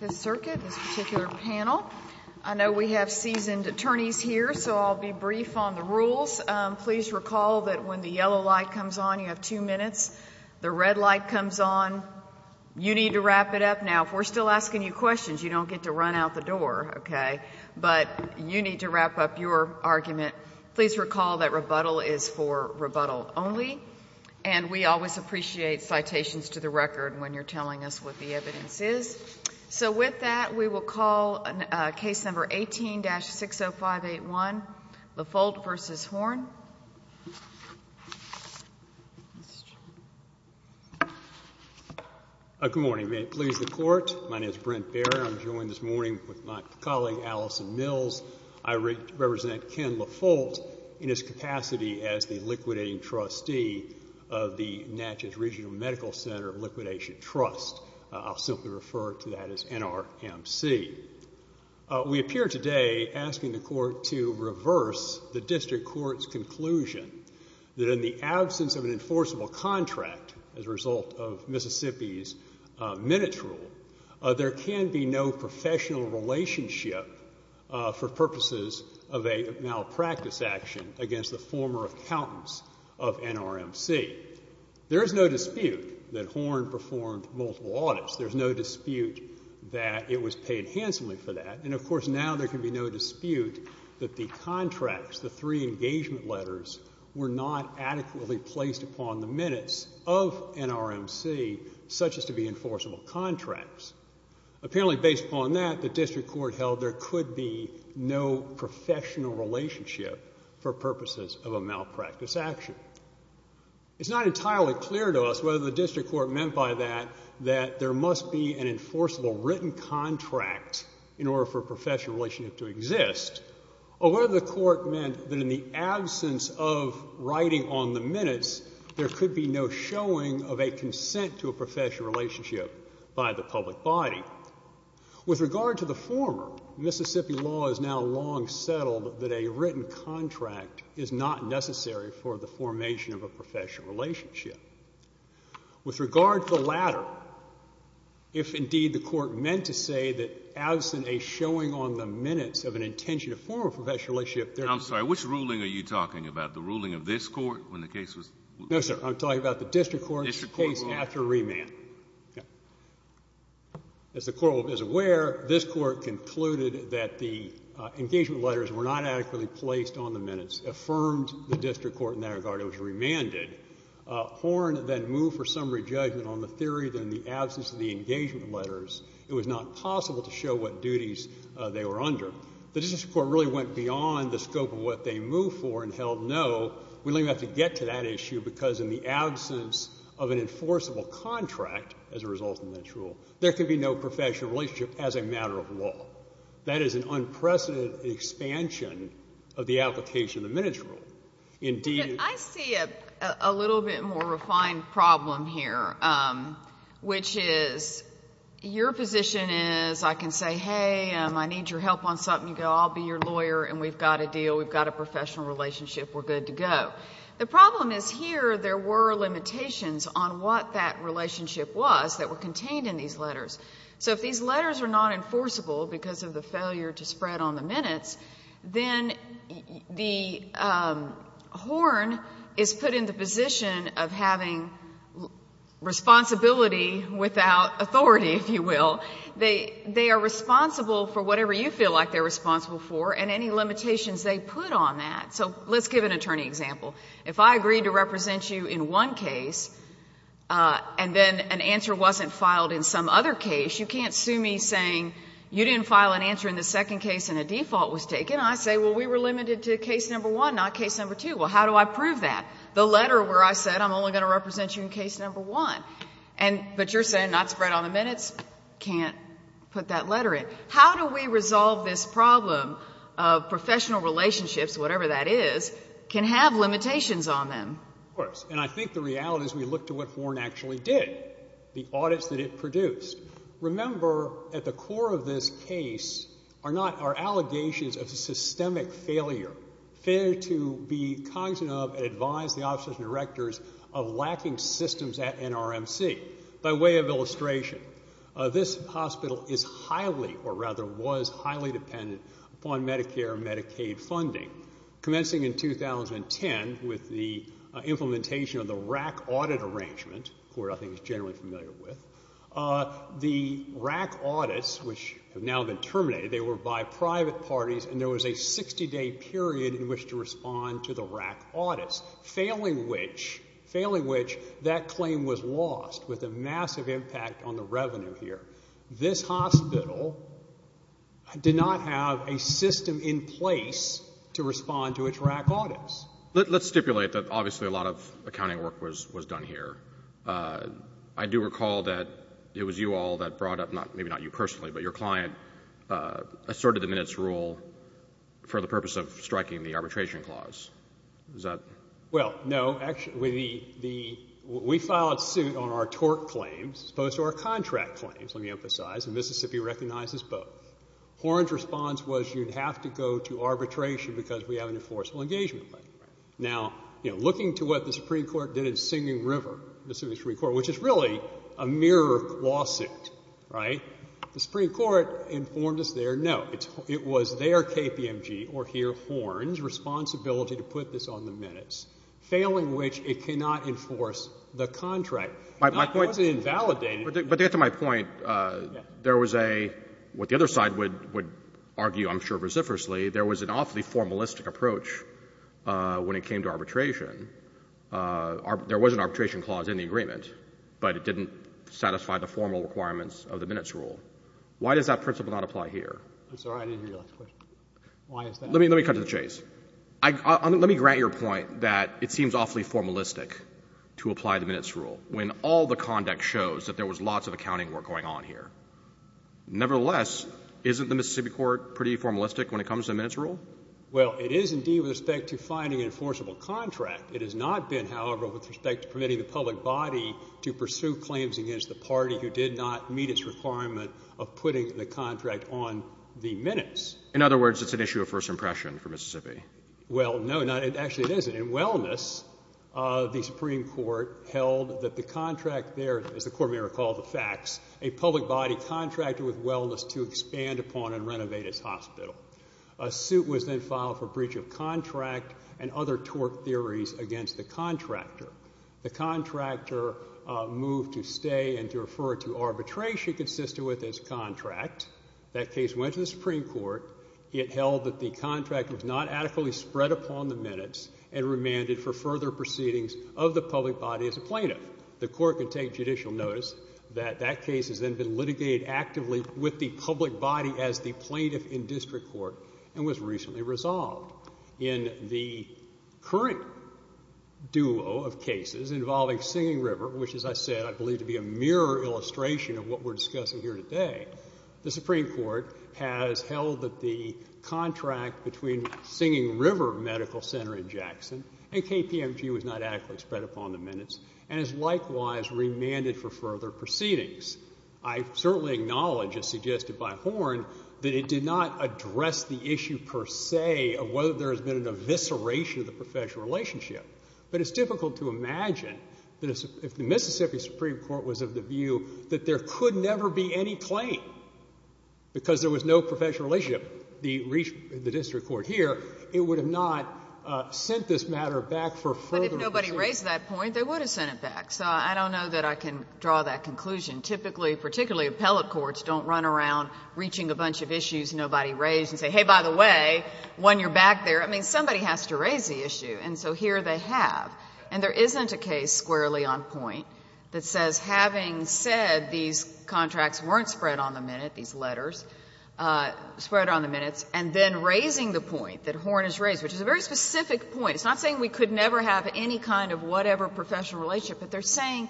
this particular panel. I know we have seasoned attorneys here, so I'll be brief on the rules. Please recall that when the yellow light comes on, you have two minutes. The red light comes on. You need to wrap it up. Now, if we're still asking you questions, you don't get to run out the door, okay? But you need to wrap up your argument. Please recall that rebuttal is for rebuttal only, and we always appreciate citations to the record when you're call case number 18-60581, Lefoldt v. Horn. Good morning. May it please the Court, my name is Brent Baird. I'm joined this morning with my colleague Allison Mills. I represent Ken Lefoldt in his capacity as the liquidating trustee of the Natchez Regional Medical Center Liquidation Trust. I'll simply refer to that as NRMC. We appear today asking the Court to reverse the district court's conclusion that in the absence of an enforceable contract as a result of Mississippi's minutes rule, there can be no professional relationship for purposes of a malpractice action against the former accountants of NRMC. There is no dispute that Horn performed multiple audits. There's no dispute that it was paid handsomely for that. And, of course, now there can be no dispute that the contracts, the three engagement letters, were not adequately placed upon the minutes of NRMC, such as to be enforceable contracts. Apparently, based upon that, the district court held there could be no professional relationship for purposes of a malpractice action. It's not entirely clear to us whether the district court meant by that that there must be an enforceable written contract in order for a professional relationship to exist, or whether the court meant that in the absence of writing on the minutes, there could be no showing of a consent to a professional relationship by the public body. With regard to the former, Mississippi law is now long settled that a written contract is not necessary for the formation of a professional relationship. With regard to the latter, if, indeed, the court meant to say that absent a showing on the minutes of an intention to form a professional relationship, there could be no professional relationship. I'm sorry. Which ruling are you talking about? The ruling of this Court when the case was No, sir. I'm talking about the district court's case after remand. District court rule. As the Court is aware, this Court concluded that the engagement letters were not adequately placed on the minutes, affirmed the district court in that regard. It was remanded. Horne then moved for summary judgment on the theory that in the absence of the engagement letters, it was not possible to show what duties they were under. The district court really went beyond the scope of what they moved for and held No, we don't even have to get to that issue because in the absence of an enforceable contract as a result of this rule, there could be no professional relationship as a matter of law. That is an unprecedented expansion of the application of the minutes rule. Indeed. I see a little bit more refined problem here, which is your position is I can say, hey, I need your help on something. You go, I'll be your lawyer, and we've got a deal. We've got a professional relationship. We're good to go. The problem is here there were limitations on what that relationship was that were contained in these letters. So if these letters are not enforceable because of the threat on the minutes, then the Horne is put in the position of having responsibility without authority, if you will. They are responsible for whatever you feel like they're responsible for and any limitations they put on that. So let's give an attorney example. If I agreed to represent you in one case and then an answer wasn't filed in some other case, you can't sue me saying you didn't file an answer in the second case and a default was taken. I say, well, we were limited to case number one, not case number two. Well, how do I prove that? The letter where I said I'm only going to represent you in case number one, but you're saying not spread on the minutes, can't put that letter in. How do we resolve this problem of professional relationships, whatever that is, can have limitations on them? Of course. And I think the reality is we look to what Horne actually did, the audits that it produced. Remember at the core of this case are not our allegations of systemic failure. Failure to be cognizant of and advise the officers and directors of lacking systems at NRMC. By way of illustration, this hospital is highly or rather was highly dependent upon Medicare and Medicaid funding. Commencing in 2010 with the implementation of the RAC audit arrangement, who I think is generally familiar with, the RAC audits which have now been terminated, they were by private parties and there was a 60-day period in which to respond to the RAC audits, failing which that claim was lost with a massive impact on the revenue here. This hospital did not have a system in place to respond to its RAC audits. Let's stipulate that obviously a lot of accounting work was done here. I do recall that it was you all that brought up, maybe not you personally, but your client asserted the minutes rule for the purpose of striking the arbitration clause. Well, no. Actually, we filed suit on our tort claims as opposed to our contract claims, let me emphasize, and Mississippi recognizes both. Horne's response was you would have to go to arbitration because we have an enforceable engagement claim. Now, you know, looking to what the Supreme Court did in Singing River, Mississippi Supreme Court, which is really a mirror lawsuit, right, the Supreme Court informed us there, no, it was their KPMG or here Horne's responsibility to put this on the minutes, failing which it cannot enforce the contract. It wasn't invalidated. But to get to my point, there was a, what the other side would argue, I'm sure, vociferously, there was an awfully formalistic approach when it came to arbitration. There was an arbitration clause in the agreement, but it didn't satisfy the formal requirements of the minutes rule. Why does that principle not apply here? I'm sorry, I didn't hear your last question. Let me cut to the chase. Let me grant your point that it seems awfully formalistic to apply the minutes rule when all the conduct shows that there was lots of accounting work going on here. Nevertheless, isn't the Mississippi court pretty formalistic when it comes to the minutes rule? Well, it is indeed with respect to finding an enforceable contract. It has not been, however, with respect to permitting the public body to pursue claims against the party who did not meet its requirement of putting the contract on the minutes. In other words, it's an issue of first impression for Mississippi. Well, no, actually it isn't. In Wellness, the Supreme Court held that the contract there, as the court may recall the facts, a public body contracted with Wellness to expand upon and renovate its hospital. A suit was then filed for breach of contract and other tort theories against the contractor. The contractor moved to stay and to refer to arbitration consistent with its contract. That case went to the Supreme Court. It held that the contract was not adequately spread upon the minutes and remanded for further proceedings of the public body as a plaintiff. The court could take judicial notice that that case has then been litigated actively with the public body as the plaintiff in district court and was recently resolved. In the current duo of cases involving Singing River, which, as I said, I believe to be a mirror illustration of what we're discussing here today, the Supreme Court has held that the contract between Singing River Medical Center in Jackson and KPMG was not adequately spread upon the minutes and has likewise remanded for further proceedings. I certainly acknowledge, as suggested by Horne, that it did not address the issue per se of whether there has been an evisceration of the professional relationship. But it's difficult to imagine that if the Mississippi Supreme Court was of the view that there could never be any claim because there was no professional relationship in the district court here, it would have not sent this matter back for further proceedings. But if nobody raised that point, they would have sent it back. So I don't know that I can draw that conclusion. Typically, particularly appellate courts don't run around reaching a bunch of issues nobody raised and say, hey, by the way, when you're back there. I mean, somebody has to raise the issue. And so here they have. And there isn't a case squarely on point that says, having said these contracts weren't spread on the minute, these letters, spread on the minutes, and then raising the point that Horne has raised, which is a very specific point. It's not saying we could never have any kind of whatever professional relationship, but they're saying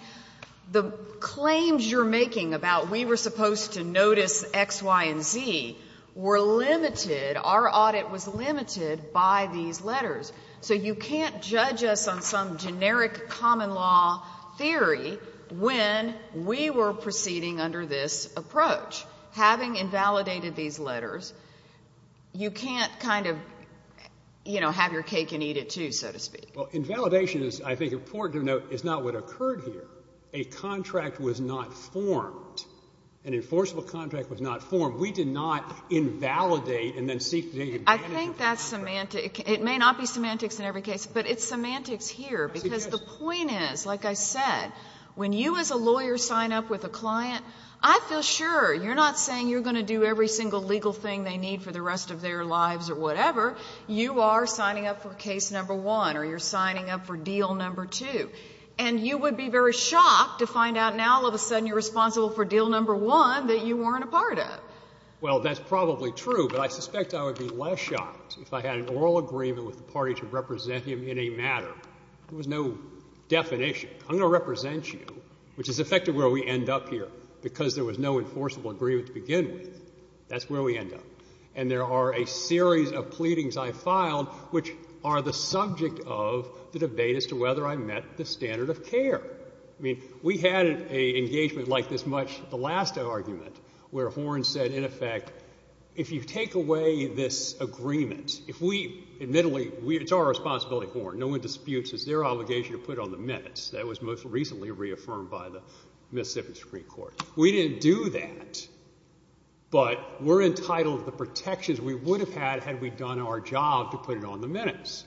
the claims you're making about we were supposed to notice X, Y, and Z were limited, our audit was limited by these letters. So you can't judge us on some generic common law theory when we were proceeding under this approach. Having invalidated these letters, you can't kind of, you know, have your cake and eat it, too, so to speak. Well, invalidation is, I think, important to note is not what occurred here. A contract was not formed. An enforceable contract was not formed. We did not invalidate and then seek to take advantage of that contract. I think that's semantic. It may not be semantics in every case, but it's semantics here. Because the point is, like I said, when you as a lawyer sign up with a client, I feel sure you're not saying you're going to do every single legal thing they need for the rest of their lives or whatever. You are signing up for case number one or you're signing up for deal number two. And you would be very shocked to find out now all of a sudden you're responsible for deal number one that you weren't a part of. Well, that's probably true, but I suspect I would be less shocked if I had an oral agreement with the party to represent him in a matter. There was no definition. I'm going to represent you, which is effectively where we end up here, because there was no enforceable agreement to begin with. That's where we end up. And there are a series of pleadings I filed which are the subject of the debate as to whether I met the standard of care. I mean, we had an engagement like this much at the last argument where Horne said in effect, if you take away this agreement, if we admittedly, it's our responsibility, Horne, no one disputes, it's their obligation to put it on the minutes. That was most recently reaffirmed by the Mississippi Supreme Court. We didn't do that, but we're entitled to the protections we would have had had we done our job to put it on the minutes.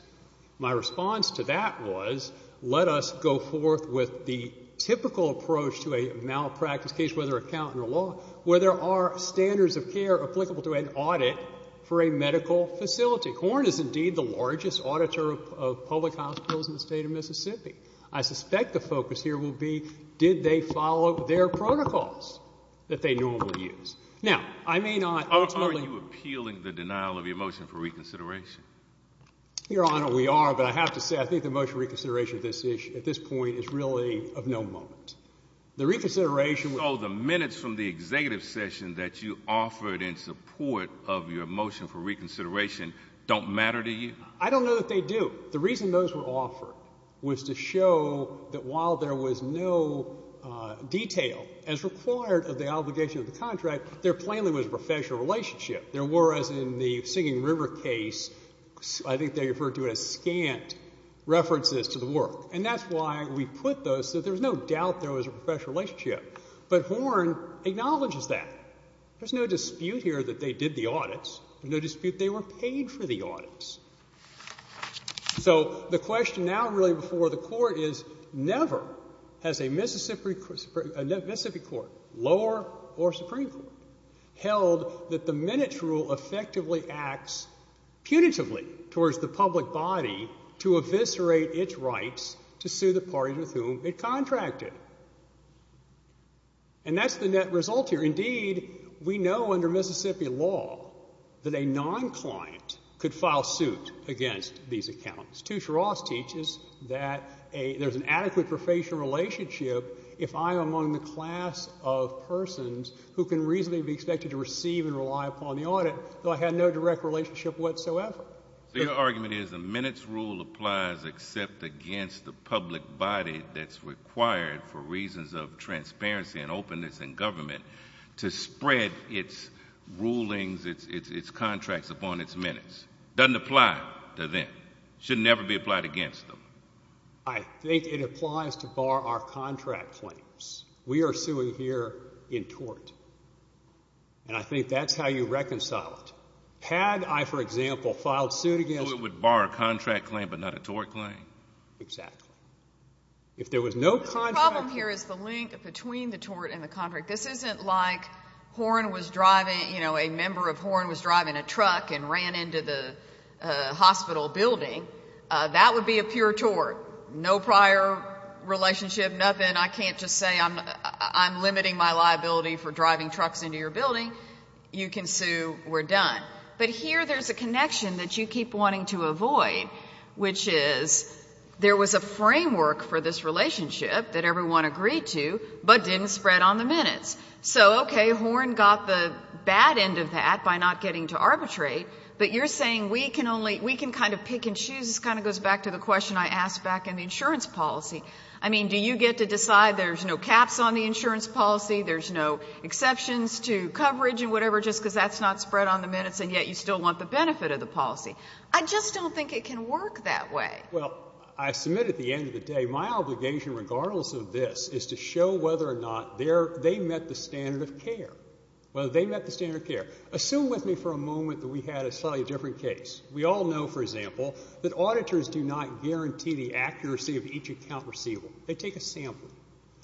My response to that was, let us go forth with the typical approach to a malpractice case, whether accountant or law, where there are standards of care applicable to an audit for a medical facility. Horne is indeed the largest auditor of public hospitals in the state of Mississippi. I suspect the focus here will be did they follow their protocols that they normally use. Now, I may not ultimately— Are you appealing the denial of your motion for reconsideration? Your Honor, we are, but I have to say I think the motion for reconsideration at this point is really of no moment. The reconsideration— So the minutes from the executive session that you offered in support of your motion for reconsideration don't matter to you? I don't know that they do. The reason those were offered was to show that while there was no detail as required of the obligation of the contract, there plainly was a professional relationship. There were, as in the Singing River case, I think they referred to it as scant references to the work. And that's why we put those so there's no doubt there was a professional relationship. But Horne acknowledges that. There's no dispute here that they did the audits. There's no dispute they were paid for the audits. So the question now really before the Court is never has a Mississippi court, lower or Supreme Court, held that the minutes rule effectively acts punitively towards the public body to eviscerate its rights to sue the parties with whom it contracted. And that's the net result here. Indeed, we know under Mississippi law that a non-client could file suit against these accounts. Tushar Ross teaches that there's an adequate professional relationship if I'm among the class of persons who can reasonably be expected to receive and rely upon the audit though I had no direct relationship whatsoever. So your argument is the minutes rule applies except against the public body that's required for reasons of transparency and openness in government to spread its rulings, its contracts upon its minutes. It doesn't apply to them. It should never be applied against them. I think it applies to bar our contract claims. We are suing here in tort, and I think that's how you reconcile it. Had I, for example, filed suit against you. So it would bar a contract claim but not a tort claim? Exactly. If there was no contract claim. The problem here is the link between the tort and the contract. This isn't like Horne was driving, you know, a member of Horne was driving a truck and ran into the hospital building. That would be a pure tort. No prior relationship, nothing. I can't just say I'm limiting my liability for driving trucks into your building. You can sue. We're done. But here there's a connection that you keep wanting to avoid, which is there was a framework for this relationship that everyone agreed to but didn't spread on the minutes. So, okay, Horne got the bad end of that by not getting to arbitrate, but you're saying we can kind of pick and choose. This kind of goes back to the question I asked back in the insurance policy. I mean, do you get to decide there's no caps on the insurance policy, there's no exceptions to coverage and whatever just because that's not spread on the minutes and yet you still want the benefit of the policy? I just don't think it can work that way. Well, I submit at the end of the day my obligation, regardless of this, is to show whether or not they met the standard of care, whether they met the standard of care. Assume with me for a moment that we had a slightly different case. We all know, for example, that auditors do not guarantee the accuracy of each account receivable. They take a sample.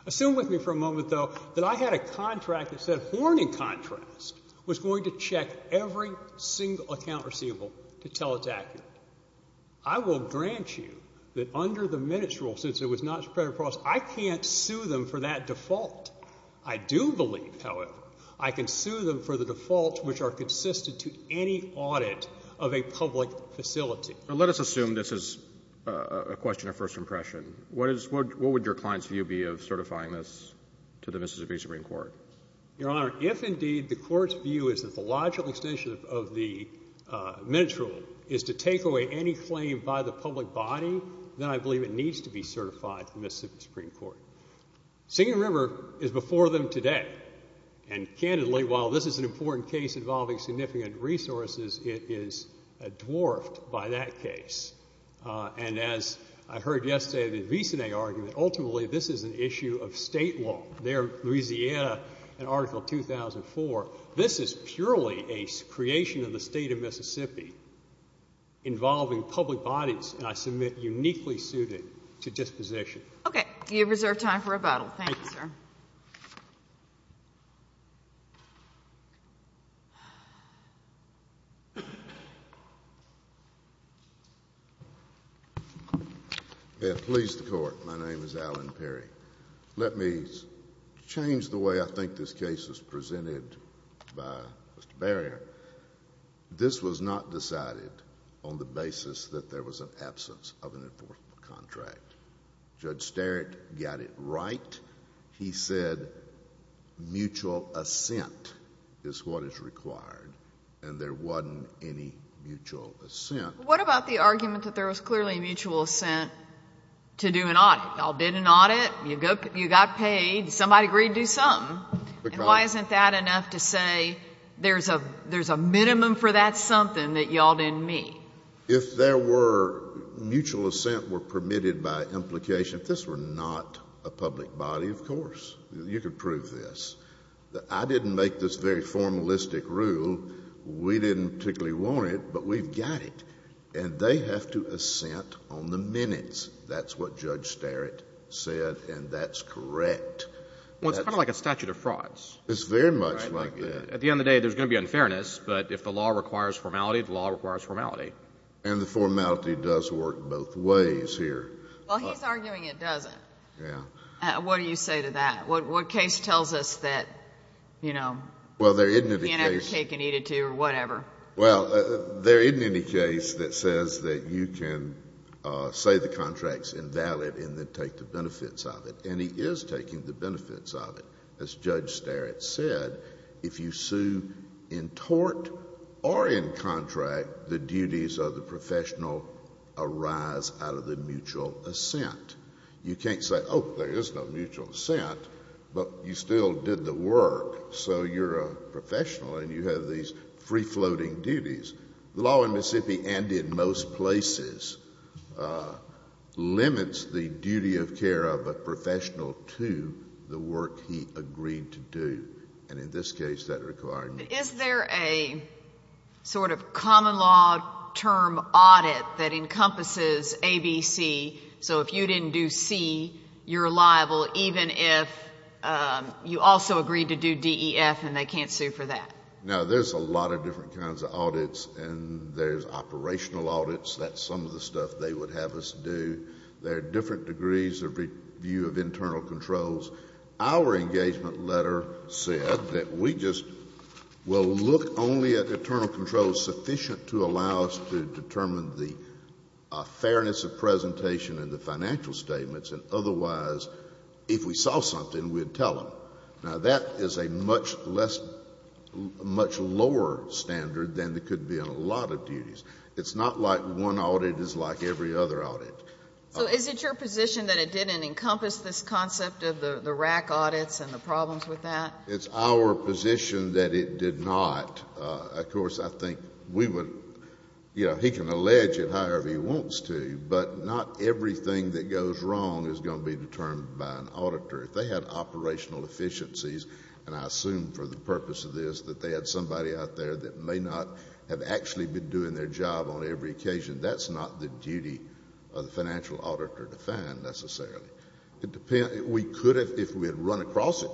Assume with me for a moment, though, that I had a contract that said Horne, in contrast, was going to check every single account receivable to tell it's accurate. I will grant you that under the minutes rule, since it was not spread across, I can't sue them for that default. I do believe, however, I can sue them for the defaults which are consistent to any audit of a public facility. Let us assume this is a question of first impression. What would your client's view be of certifying this to the Mississippi Supreme Court? Your Honor, if indeed the court's view is that the logical extension of the minutes rule is to take away any claim by the public body, then I believe it needs to be certified to the Mississippi Supreme Court. Singing River is before them today. And candidly, while this is an important case involving significant resources, it is dwarfed by that case. And as I heard yesterday, the Visine argument, ultimately this is an issue of State law. There, Louisiana, in Article 2004, this is purely a creation of the State of Mississippi involving public bodies, and I submit, uniquely suited to disposition. Thank you. Okay. You have reserved time for rebuttal. Thank you, sir. Please, the Court. My name is Alan Perry. Let me change the way I think this case is presented by Mr. Barrier. This was not decided on the basis that there was an absence of an enforceable contract. Judge Sterrett got it right. He said mutual assent is what is required, and there wasn't any mutual assent. What about the argument that there was clearly mutual assent to do an audit? Y'all did an audit. You got paid. Somebody agreed to do something. Why isn't that enough to say there's a minimum for that something that y'all didn't meet? If there were mutual assent were permitted by implication, if this were not a public body, of course, you could prove this. I didn't make this very formalistic rule. We didn't particularly want it, but we've got it. And they have to assent on the minutes. That's what Judge Sterrett said, and that's correct. Well, it's kind of like a statute of frauds. It's very much like that. At the end of the day, there's going to be unfairness, but if the law requires formality, the law requires formality. And the formality does work both ways here. Well, he's arguing it doesn't. Yeah. What do you say to that? What case tells us that, you know, you can't ever take an E-2 or whatever? Well, there isn't any case that says that you can say the contract's invalid and then take the benefits of it. And he is taking the benefits of it. As Judge Sterrett said, if you sue in tort or in contract, the duties of the professional arise out of the mutual assent. You can't say, oh, there is no mutual assent, but you still did the work, so you're a professional and you have these free-floating duties. The law in Mississippi and in most places limits the duty of care of a professional to the work he agreed to do. And in this case, that required mutual assent. Is there a sort of common law term audit that encompasses A, B, C, so if you didn't do C, you're liable, even if you also agreed to do D, E, F and they can't sue for that? Now, there's a lot of different kinds of audits and there's operational audits. That's some of the stuff they would have us do. There are different degrees of review of internal controls. Our engagement letter said that we just will look only at internal controls sufficient to allow us to determine the fairness of presentation and the financial statements, and otherwise, if we saw something, we'd tell them. Now, that is a much less, much lower standard than it could be on a lot of duties. It's not like one audit is like every other audit. So is it your position that it didn't encompass this concept of the RAC audits and the problems with that? It's our position that it did not. Of course, I think we would, you know, he can allege it however he wants to, but if they had operational efficiencies, and I assume for the purpose of this that they had somebody out there that may not have actually been doing their job on every occasion, that's not the duty of the financial auditor to find necessarily. We could have, if we had run across it,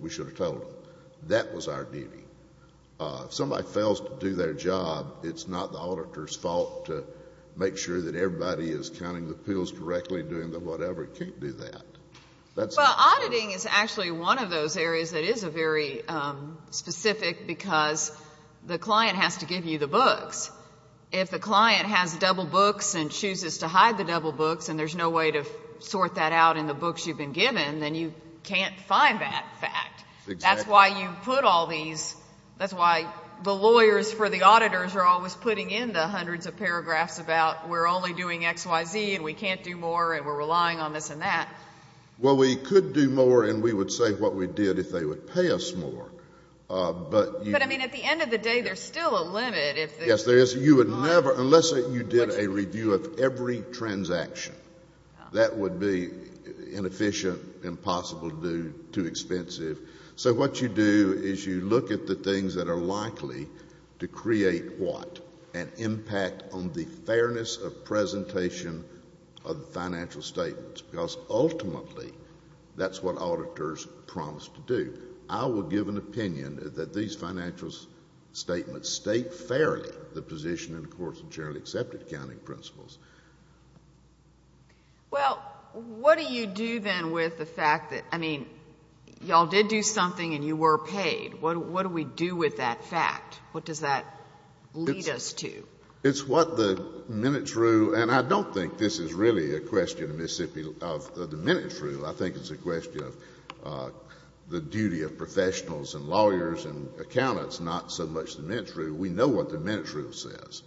we should have told them. That was our duty. If somebody fails to do their job, it's not the auditor's fault to make sure that everybody is counting the pills correctly, doing the whatever. It can't do that. Well, auditing is actually one of those areas that is a very specific because the client has to give you the books. If the client has double books and chooses to hide the double books and there's no way to sort that out in the books you've been given, then you can't find that fact. Exactly. That's why you put all these, that's why the lawyers for the auditors are always putting in the hundreds of paragraphs about we're only doing XYZ and we can't do more and we're relying on this and that. Well, we could do more and we would say what we did if they would pay us more. But, I mean, at the end of the day, there's still a limit. Yes, there is. You would never, unless you did a review of every transaction, that would be inefficient, impossible to do, too expensive. So what you do is you look at the things that are likely to create what? An impact on the fairness of presentation of the financial statements, because ultimately that's what auditors promise to do. I will give an opinion that these financial statements state fairly the position in the courts of generally accepted accounting principles. Well, what do you do then with the fact that, I mean, y'all did do something and you were paid. What do we do with that fact? What does that lead us to? It's what the minutes rule, and I don't think this is really a question of the minutes rule. I think it's a question of the duty of professionals and lawyers and accountants, not so much the minutes rule. We know what the minutes rule says.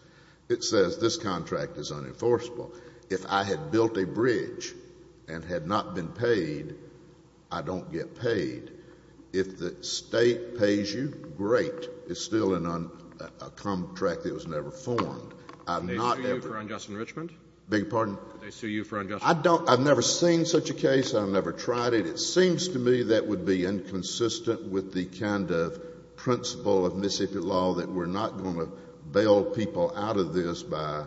It says this contract is unenforceable. If I had built a bridge and had not been paid, I don't get paid. If the state pays you, great. It's still a contract that was never formed. I've not ever. Do they sue you for unjust enrichment? Beg your pardon? Do they sue you for unjust enrichment? I don't. I've never seen such a case. I've never tried it. It seems to me that would be inconsistent with the kind of principle of Mississippi law that we're not going to bail people out of this by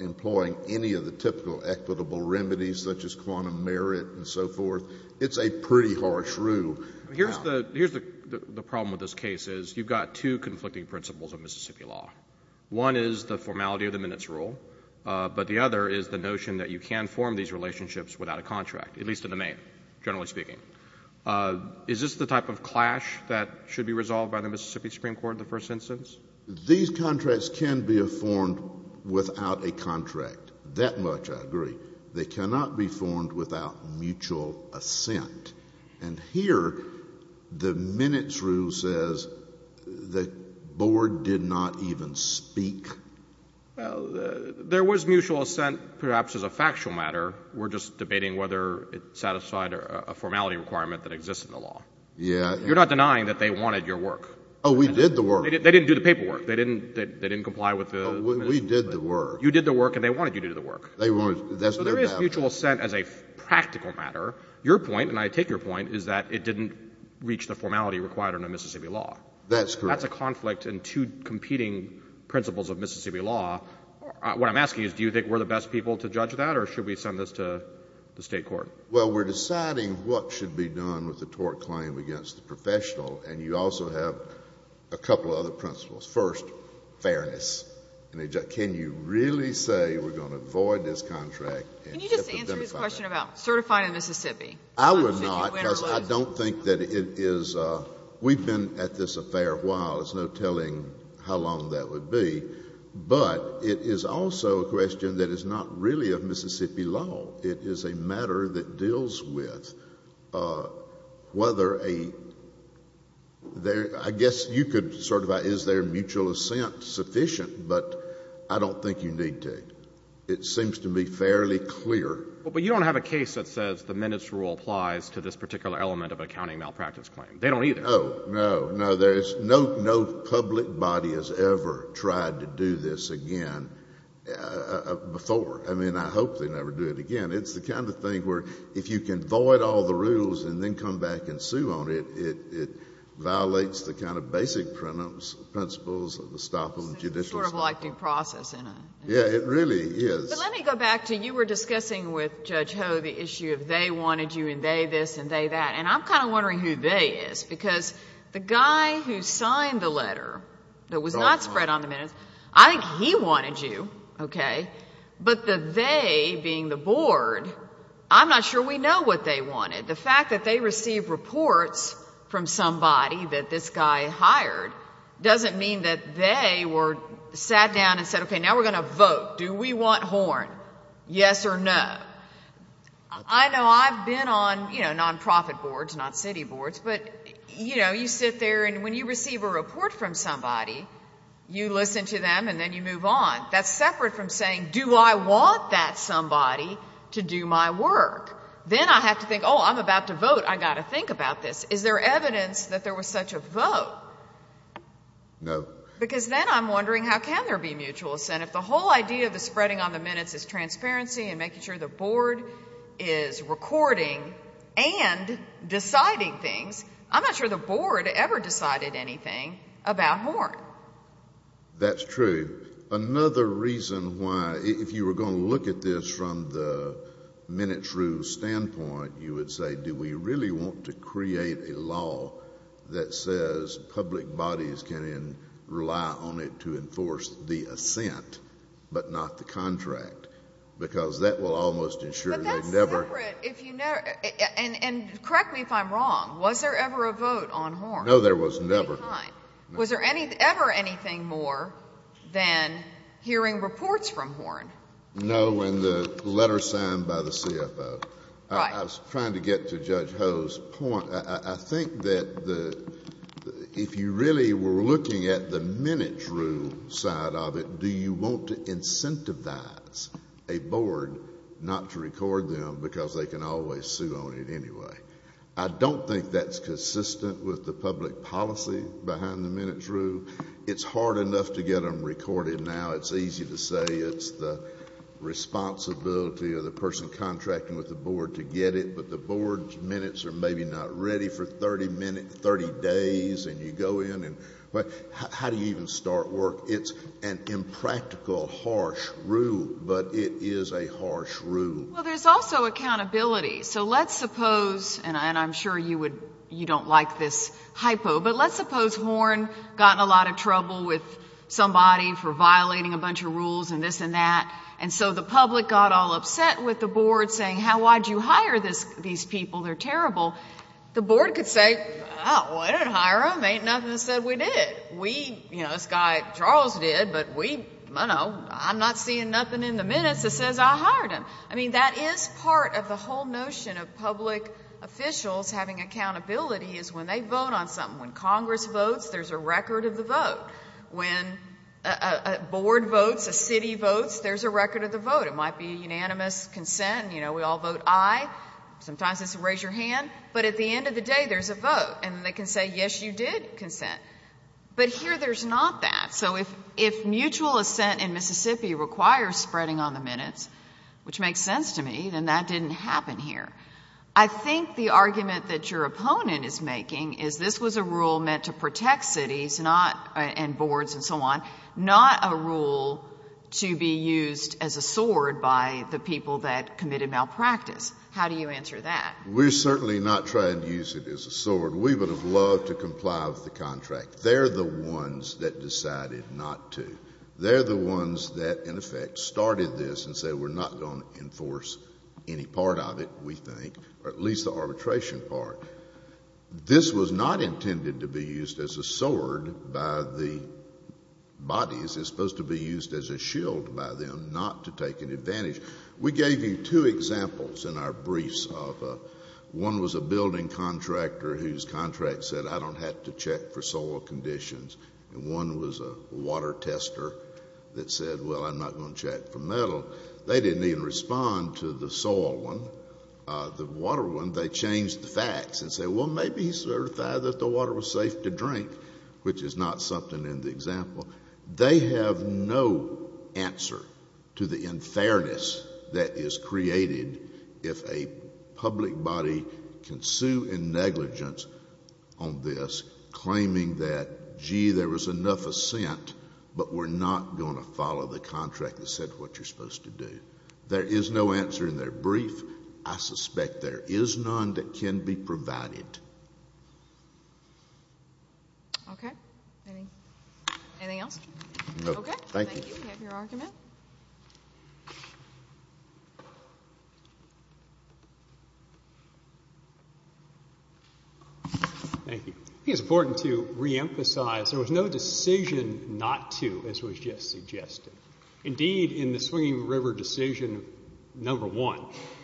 employing any of the typical equitable remedies such as quantum merit and so forth. It's a pretty harsh rule. Here's the problem with this case is you've got two conflicting principles of Mississippi law. One is the formality of the minutes rule, but the other is the notion that you can form these relationships without a contract, at least in the main, generally speaking. Is this the type of clash that should be resolved by the Mississippi Supreme Court in the first instance? These contracts can be formed without a contract. That much I agree. They cannot be formed without mutual assent. And here the minutes rule says the board did not even speak. Well, there was mutual assent perhaps as a factual matter. We're just debating whether it satisfied a formality requirement that exists in the law. Yeah. You're not denying that they wanted your work. Oh, we did the work. They didn't do the paperwork. They didn't comply with the minutes rule. We did the work. You did the work and they wanted you to do the work. So there is mutual assent as a practical matter. Your point, and I take your point, is that it didn't reach the formality required under Mississippi law. That's correct. That's a conflict in two competing principles of Mississippi law. What I'm asking is do you think we're the best people to judge that or should we send this to the State court? Well, we're deciding what should be done with the tort claim against the professional and you also have a couple of other principles. First, fairness. Can you really say we're going to avoid this contract? Can you just answer his question about certifying in Mississippi? I would not because I don't think that it is. We've been at this affair a while. There's no telling how long that would be. But it is also a question that is not really of Mississippi law. It is a matter that deals with whether a — I guess you could certify is there mutual assent sufficient, but I don't think you need to. It seems to me fairly clear. But you don't have a case that says the minutes rule applies to this particular element of accounting malpractice claim. They don't either. Oh, no, no. There's no public body has ever tried to do this again before. I mean, I hope they never do it again. It's the kind of thing where if you can void all the rules and then come back and Yeah, it really is. But let me go back to you were discussing with Judge Ho the issue of they wanted you and they this and they that. And I'm kind of wondering who they is because the guy who signed the letter that was not spread on the minutes, I think he wanted you, okay? But the they being the board, I'm not sure we know what they wanted. The fact that they received reports from somebody that this guy hired doesn't mean that they sat down and said, okay, now we're going to vote. Do we want Horn? Yes or no? I know I've been on nonprofit boards, not city boards, but you sit there and when you receive a report from somebody, you listen to them and then you move on. That's separate from saying, do I want that somebody to do my work? Then I have to think, oh, I'm about to vote. I've got to think about this. Is there evidence that there was such a vote? No. Because then I'm wondering how can there be mutual assent? If the whole idea of the spreading on the minutes is transparency and making sure the board is recording and deciding things, I'm not sure the board ever decided anything about Horn. That's true. Another reason why, if you were going to look at this from the minutes rule standpoint, you would say, do we really want to create a law that says public bodies can rely on it to enforce the assent, but not the contract? Because that will almost ensure they never. But that's separate. And correct me if I'm wrong. Was there ever a vote on Horn? No, there was never. Was there ever anything more than hearing reports from Horn? No, in the letter signed by the CFO. I was trying to get to Judge Ho's point. I think that if you really were looking at the minutes rule side of it, do you want to incentivize a board not to record them because they can always sue on it anyway? I don't think that's consistent with the public policy behind the minutes rule. It's hard enough to get them recorded now. It's easy to say it's the responsibility of the person contracting with the board to get it. But the board's minutes are maybe not ready for 30 days. And you go in and how do you even start work? It's an impractical, harsh rule. But it is a harsh rule. Well, there's also accountability. So let's suppose, and I'm sure you don't like this hypo, but let's suppose Horn got in a lot of trouble with somebody for violating a bunch of rules and this and that. And so the public got all upset with the board saying, why did you hire these people? They're terrible. The board could say, well, I didn't hire them. Ain't nothing that said we did. We, you know, this guy Charles did. But we, I don't know, I'm not seeing nothing in the minutes that says I hired them. I mean, that is part of the whole notion of public officials having accountability is when they vote on something. When Congress votes, there's a record of the vote. When a board votes, a city votes, there's a record of the vote. It might be unanimous consent. You know, we all vote aye. Sometimes it's a raise your hand. But at the end of the day, there's a vote. And they can say, yes, you did consent. But here there's not that. So if mutual assent in Mississippi requires spreading on the minutes, which makes sense to me, then that didn't happen here. I think the argument that your opponent is making is this was a rule meant to protect cities and boards and so on, not a rule to be used as a sword by the people that committed malpractice. How do you answer that? We're certainly not trying to use it as a sword. We would have loved to comply with the contract. They're the ones that decided not to. They're the ones that, in effect, started this and said we're not going to enforce any part of it. We think, or at least the arbitration part. This was not intended to be used as a sword by the bodies. It's supposed to be used as a shield by them, not to take an advantage. We gave you two examples in our briefs. One was a building contractor whose contract said I don't have to check for soil conditions. And one was a water tester that said, well, I'm not going to check for metal. They didn't even respond to the soil one. The water one, they changed the facts and said, well, maybe he certified that the water was safe to drink, which is not something in the example. They have no answer to the unfairness that is created if a public body can sue in negligence on this, claiming that, gee, there was enough assent, but we're not going to follow the contract that said what you're supposed to do. There is no answer in their brief. I suspect there is none that can be provided. Okay. Anything else? No. Okay. Thank you. We have your argument. Thank you. I think it's important to reemphasize there was no decision not to, as was just suggested. Indeed, in the Swinging River decision, number one,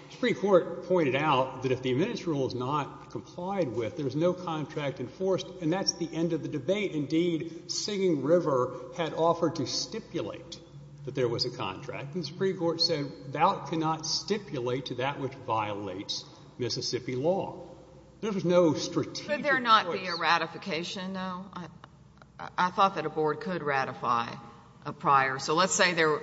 the Supreme Court pointed out that if the administrative rule is not complied with, there's no contract enforced, and that's the end of the debate. Indeed, Singing River had offered to stipulate that there was a contract, and the Supreme Court said that cannot stipulate to that which violates Mississippi law. There was no strategic voice. Could there not be a ratification, though? I thought that a board could ratify a prior. So let's say there were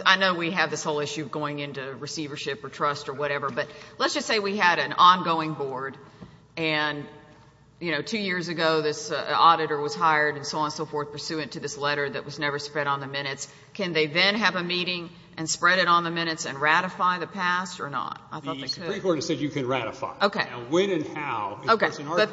– I know we have this whole issue of going into receivership or trust or whatever, but let's just say we had an ongoing board and, you know, two years ago this auditor was hired and so on and so forth, pursuant to this letter that was never spread on the minutes. Can they then have a meeting and spread it on the minutes and ratify the past or not? I thought they could. The Supreme Court has said you can ratify. Okay. When and how. Okay.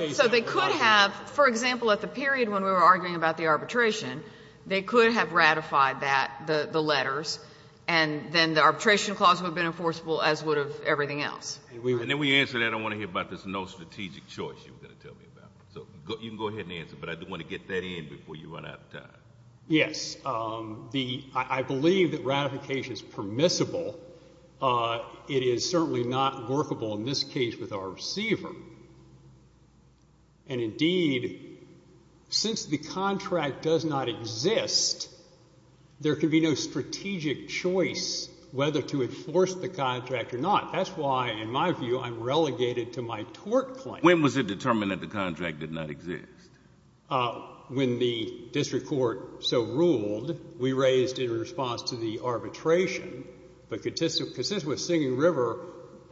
So they could have, for example, at the period when we were arguing about the arbitration, they could have ratified that, the letters, and then the arbitration clause would have been enforceable as would have everything else. And then we answered that. I don't want to hear about this no strategic choice you were going to tell me about. So you can go ahead and answer, but I do want to get that in before you run out of time. Yes. I believe that ratification is permissible. It is certainly not workable in this case with our receiver. And, indeed, since the contract does not exist, there could be no strategic choice whether to enforce the contract or not. That's why, in my view, I'm relegated to my tort claim. When was it determined that the contract did not exist? When the district court so ruled, we raised in response to the arbitration that consists with Singing River,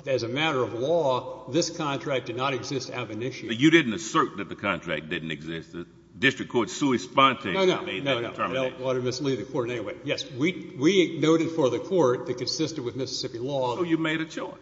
as a matter of law, this contract did not exist out of an issue. But you didn't assert that the contract didn't exist. The district court's sui sponte. No, no. No, no. I don't want to mislead the court in any way. Yes, we noted for the court that consisted with Mississippi law. So you made a choice.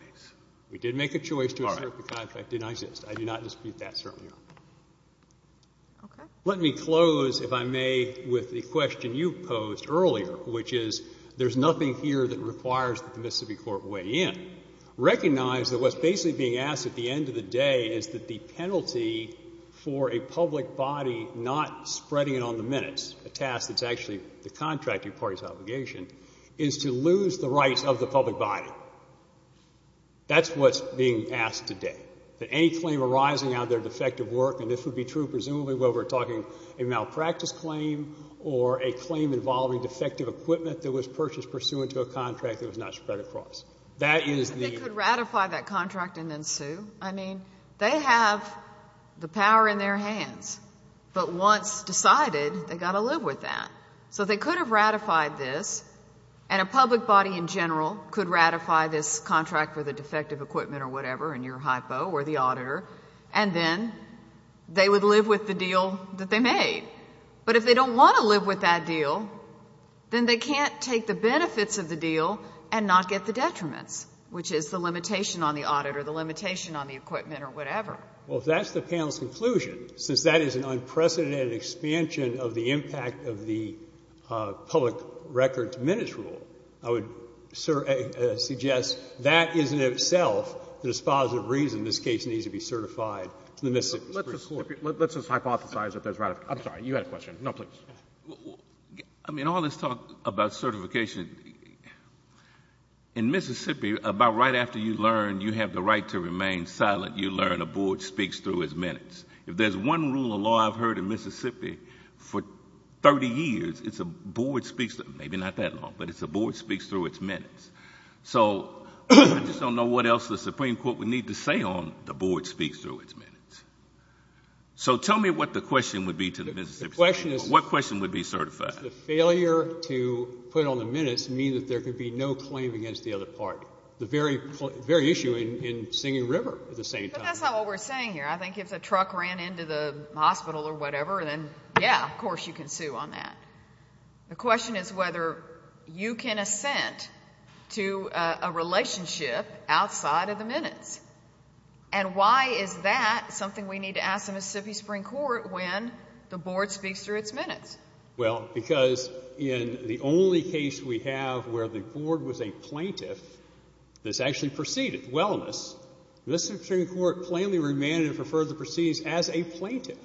We did make a choice to assert the contract did not exist. I do not dispute that, certainly not. Okay. Let me close, if I may, with the question you posed earlier, which is there's nothing here that requires that the Mississippi court weigh in. Recognize that what's basically being asked at the end of the day is that the penalty for a public body not spreading it on the minutes, a task that's actually the contracting party's obligation, is to lose the rights of the public body. That's what's being asked today. That any claim arising out of their defective work, and this would be true presumably where we're talking a malpractice claim or a claim involving defective equipment that was purchased pursuant to a contract that was not spread across. That is the... They could ratify that contract and then sue. I mean, they have the power in their hands. But once decided, they've got to live with that. So they could have ratified this, and a public body in general could ratify this contract for the defective equipment or whatever, and your hypo or the auditor, and then they would live with the deal that they made. But if they don't want to live with that deal, then they can't take the benefits of the deal and not get the detriments, which is the limitation on the auditor, the limitation on the equipment or whatever. Well, if that's the panel's conclusion, since that is an unprecedented expansion of the impact of the public records minutes rule, I would suggest that isn't itself the dispositive reason this case needs to be certified to the Mississippi Supreme Court. Let's just hypothesize that there's ratification. I'm sorry, you had a question. No, please. I mean, all this talk about certification, in Mississippi about right after you learn you have the right to remain silent, you learn a board speaks through its minutes. If there's one rule of law I've heard in Mississippi for 30 years, it's a board speaks through its minutes. So I just don't know what else the Supreme Court would need to say on a board speaks through its minutes. So tell me what the question would be to the Mississippi Supreme Court. What question would be certified? The failure to put on the minutes means that there could be no claim against the other part, the very issue in Singing River at the same time. But that's not what we're saying here. I think if the truck ran into the hospital or whatever, then, yeah, of course you can sue on that. The question is whether you can assent to a relationship outside of the minutes. And why is that something we need to ask the Mississippi Supreme Court when the board speaks through its minutes? Well, because in the only case we have where the board was a plaintiff, this actually preceded wellness, Mississippi Supreme Court plainly remanded for further proceedings as a plaintiff,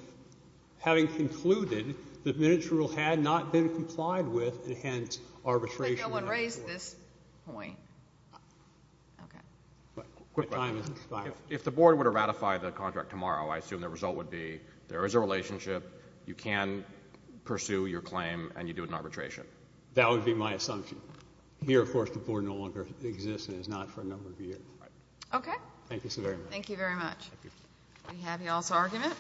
having concluded that minutes rule had not been complied with, and hence arbitration. But no one raised this point. Okay. Quick question. If the board were to ratify the contract tomorrow, I assume the result would be there is a relationship, you can pursue your claim, and you do it in arbitration. That would be my assumption. Here, of course, the board no longer exists and is not for a number of years. Okay. Thank you so very much. Thank you very much. We have you all's argument.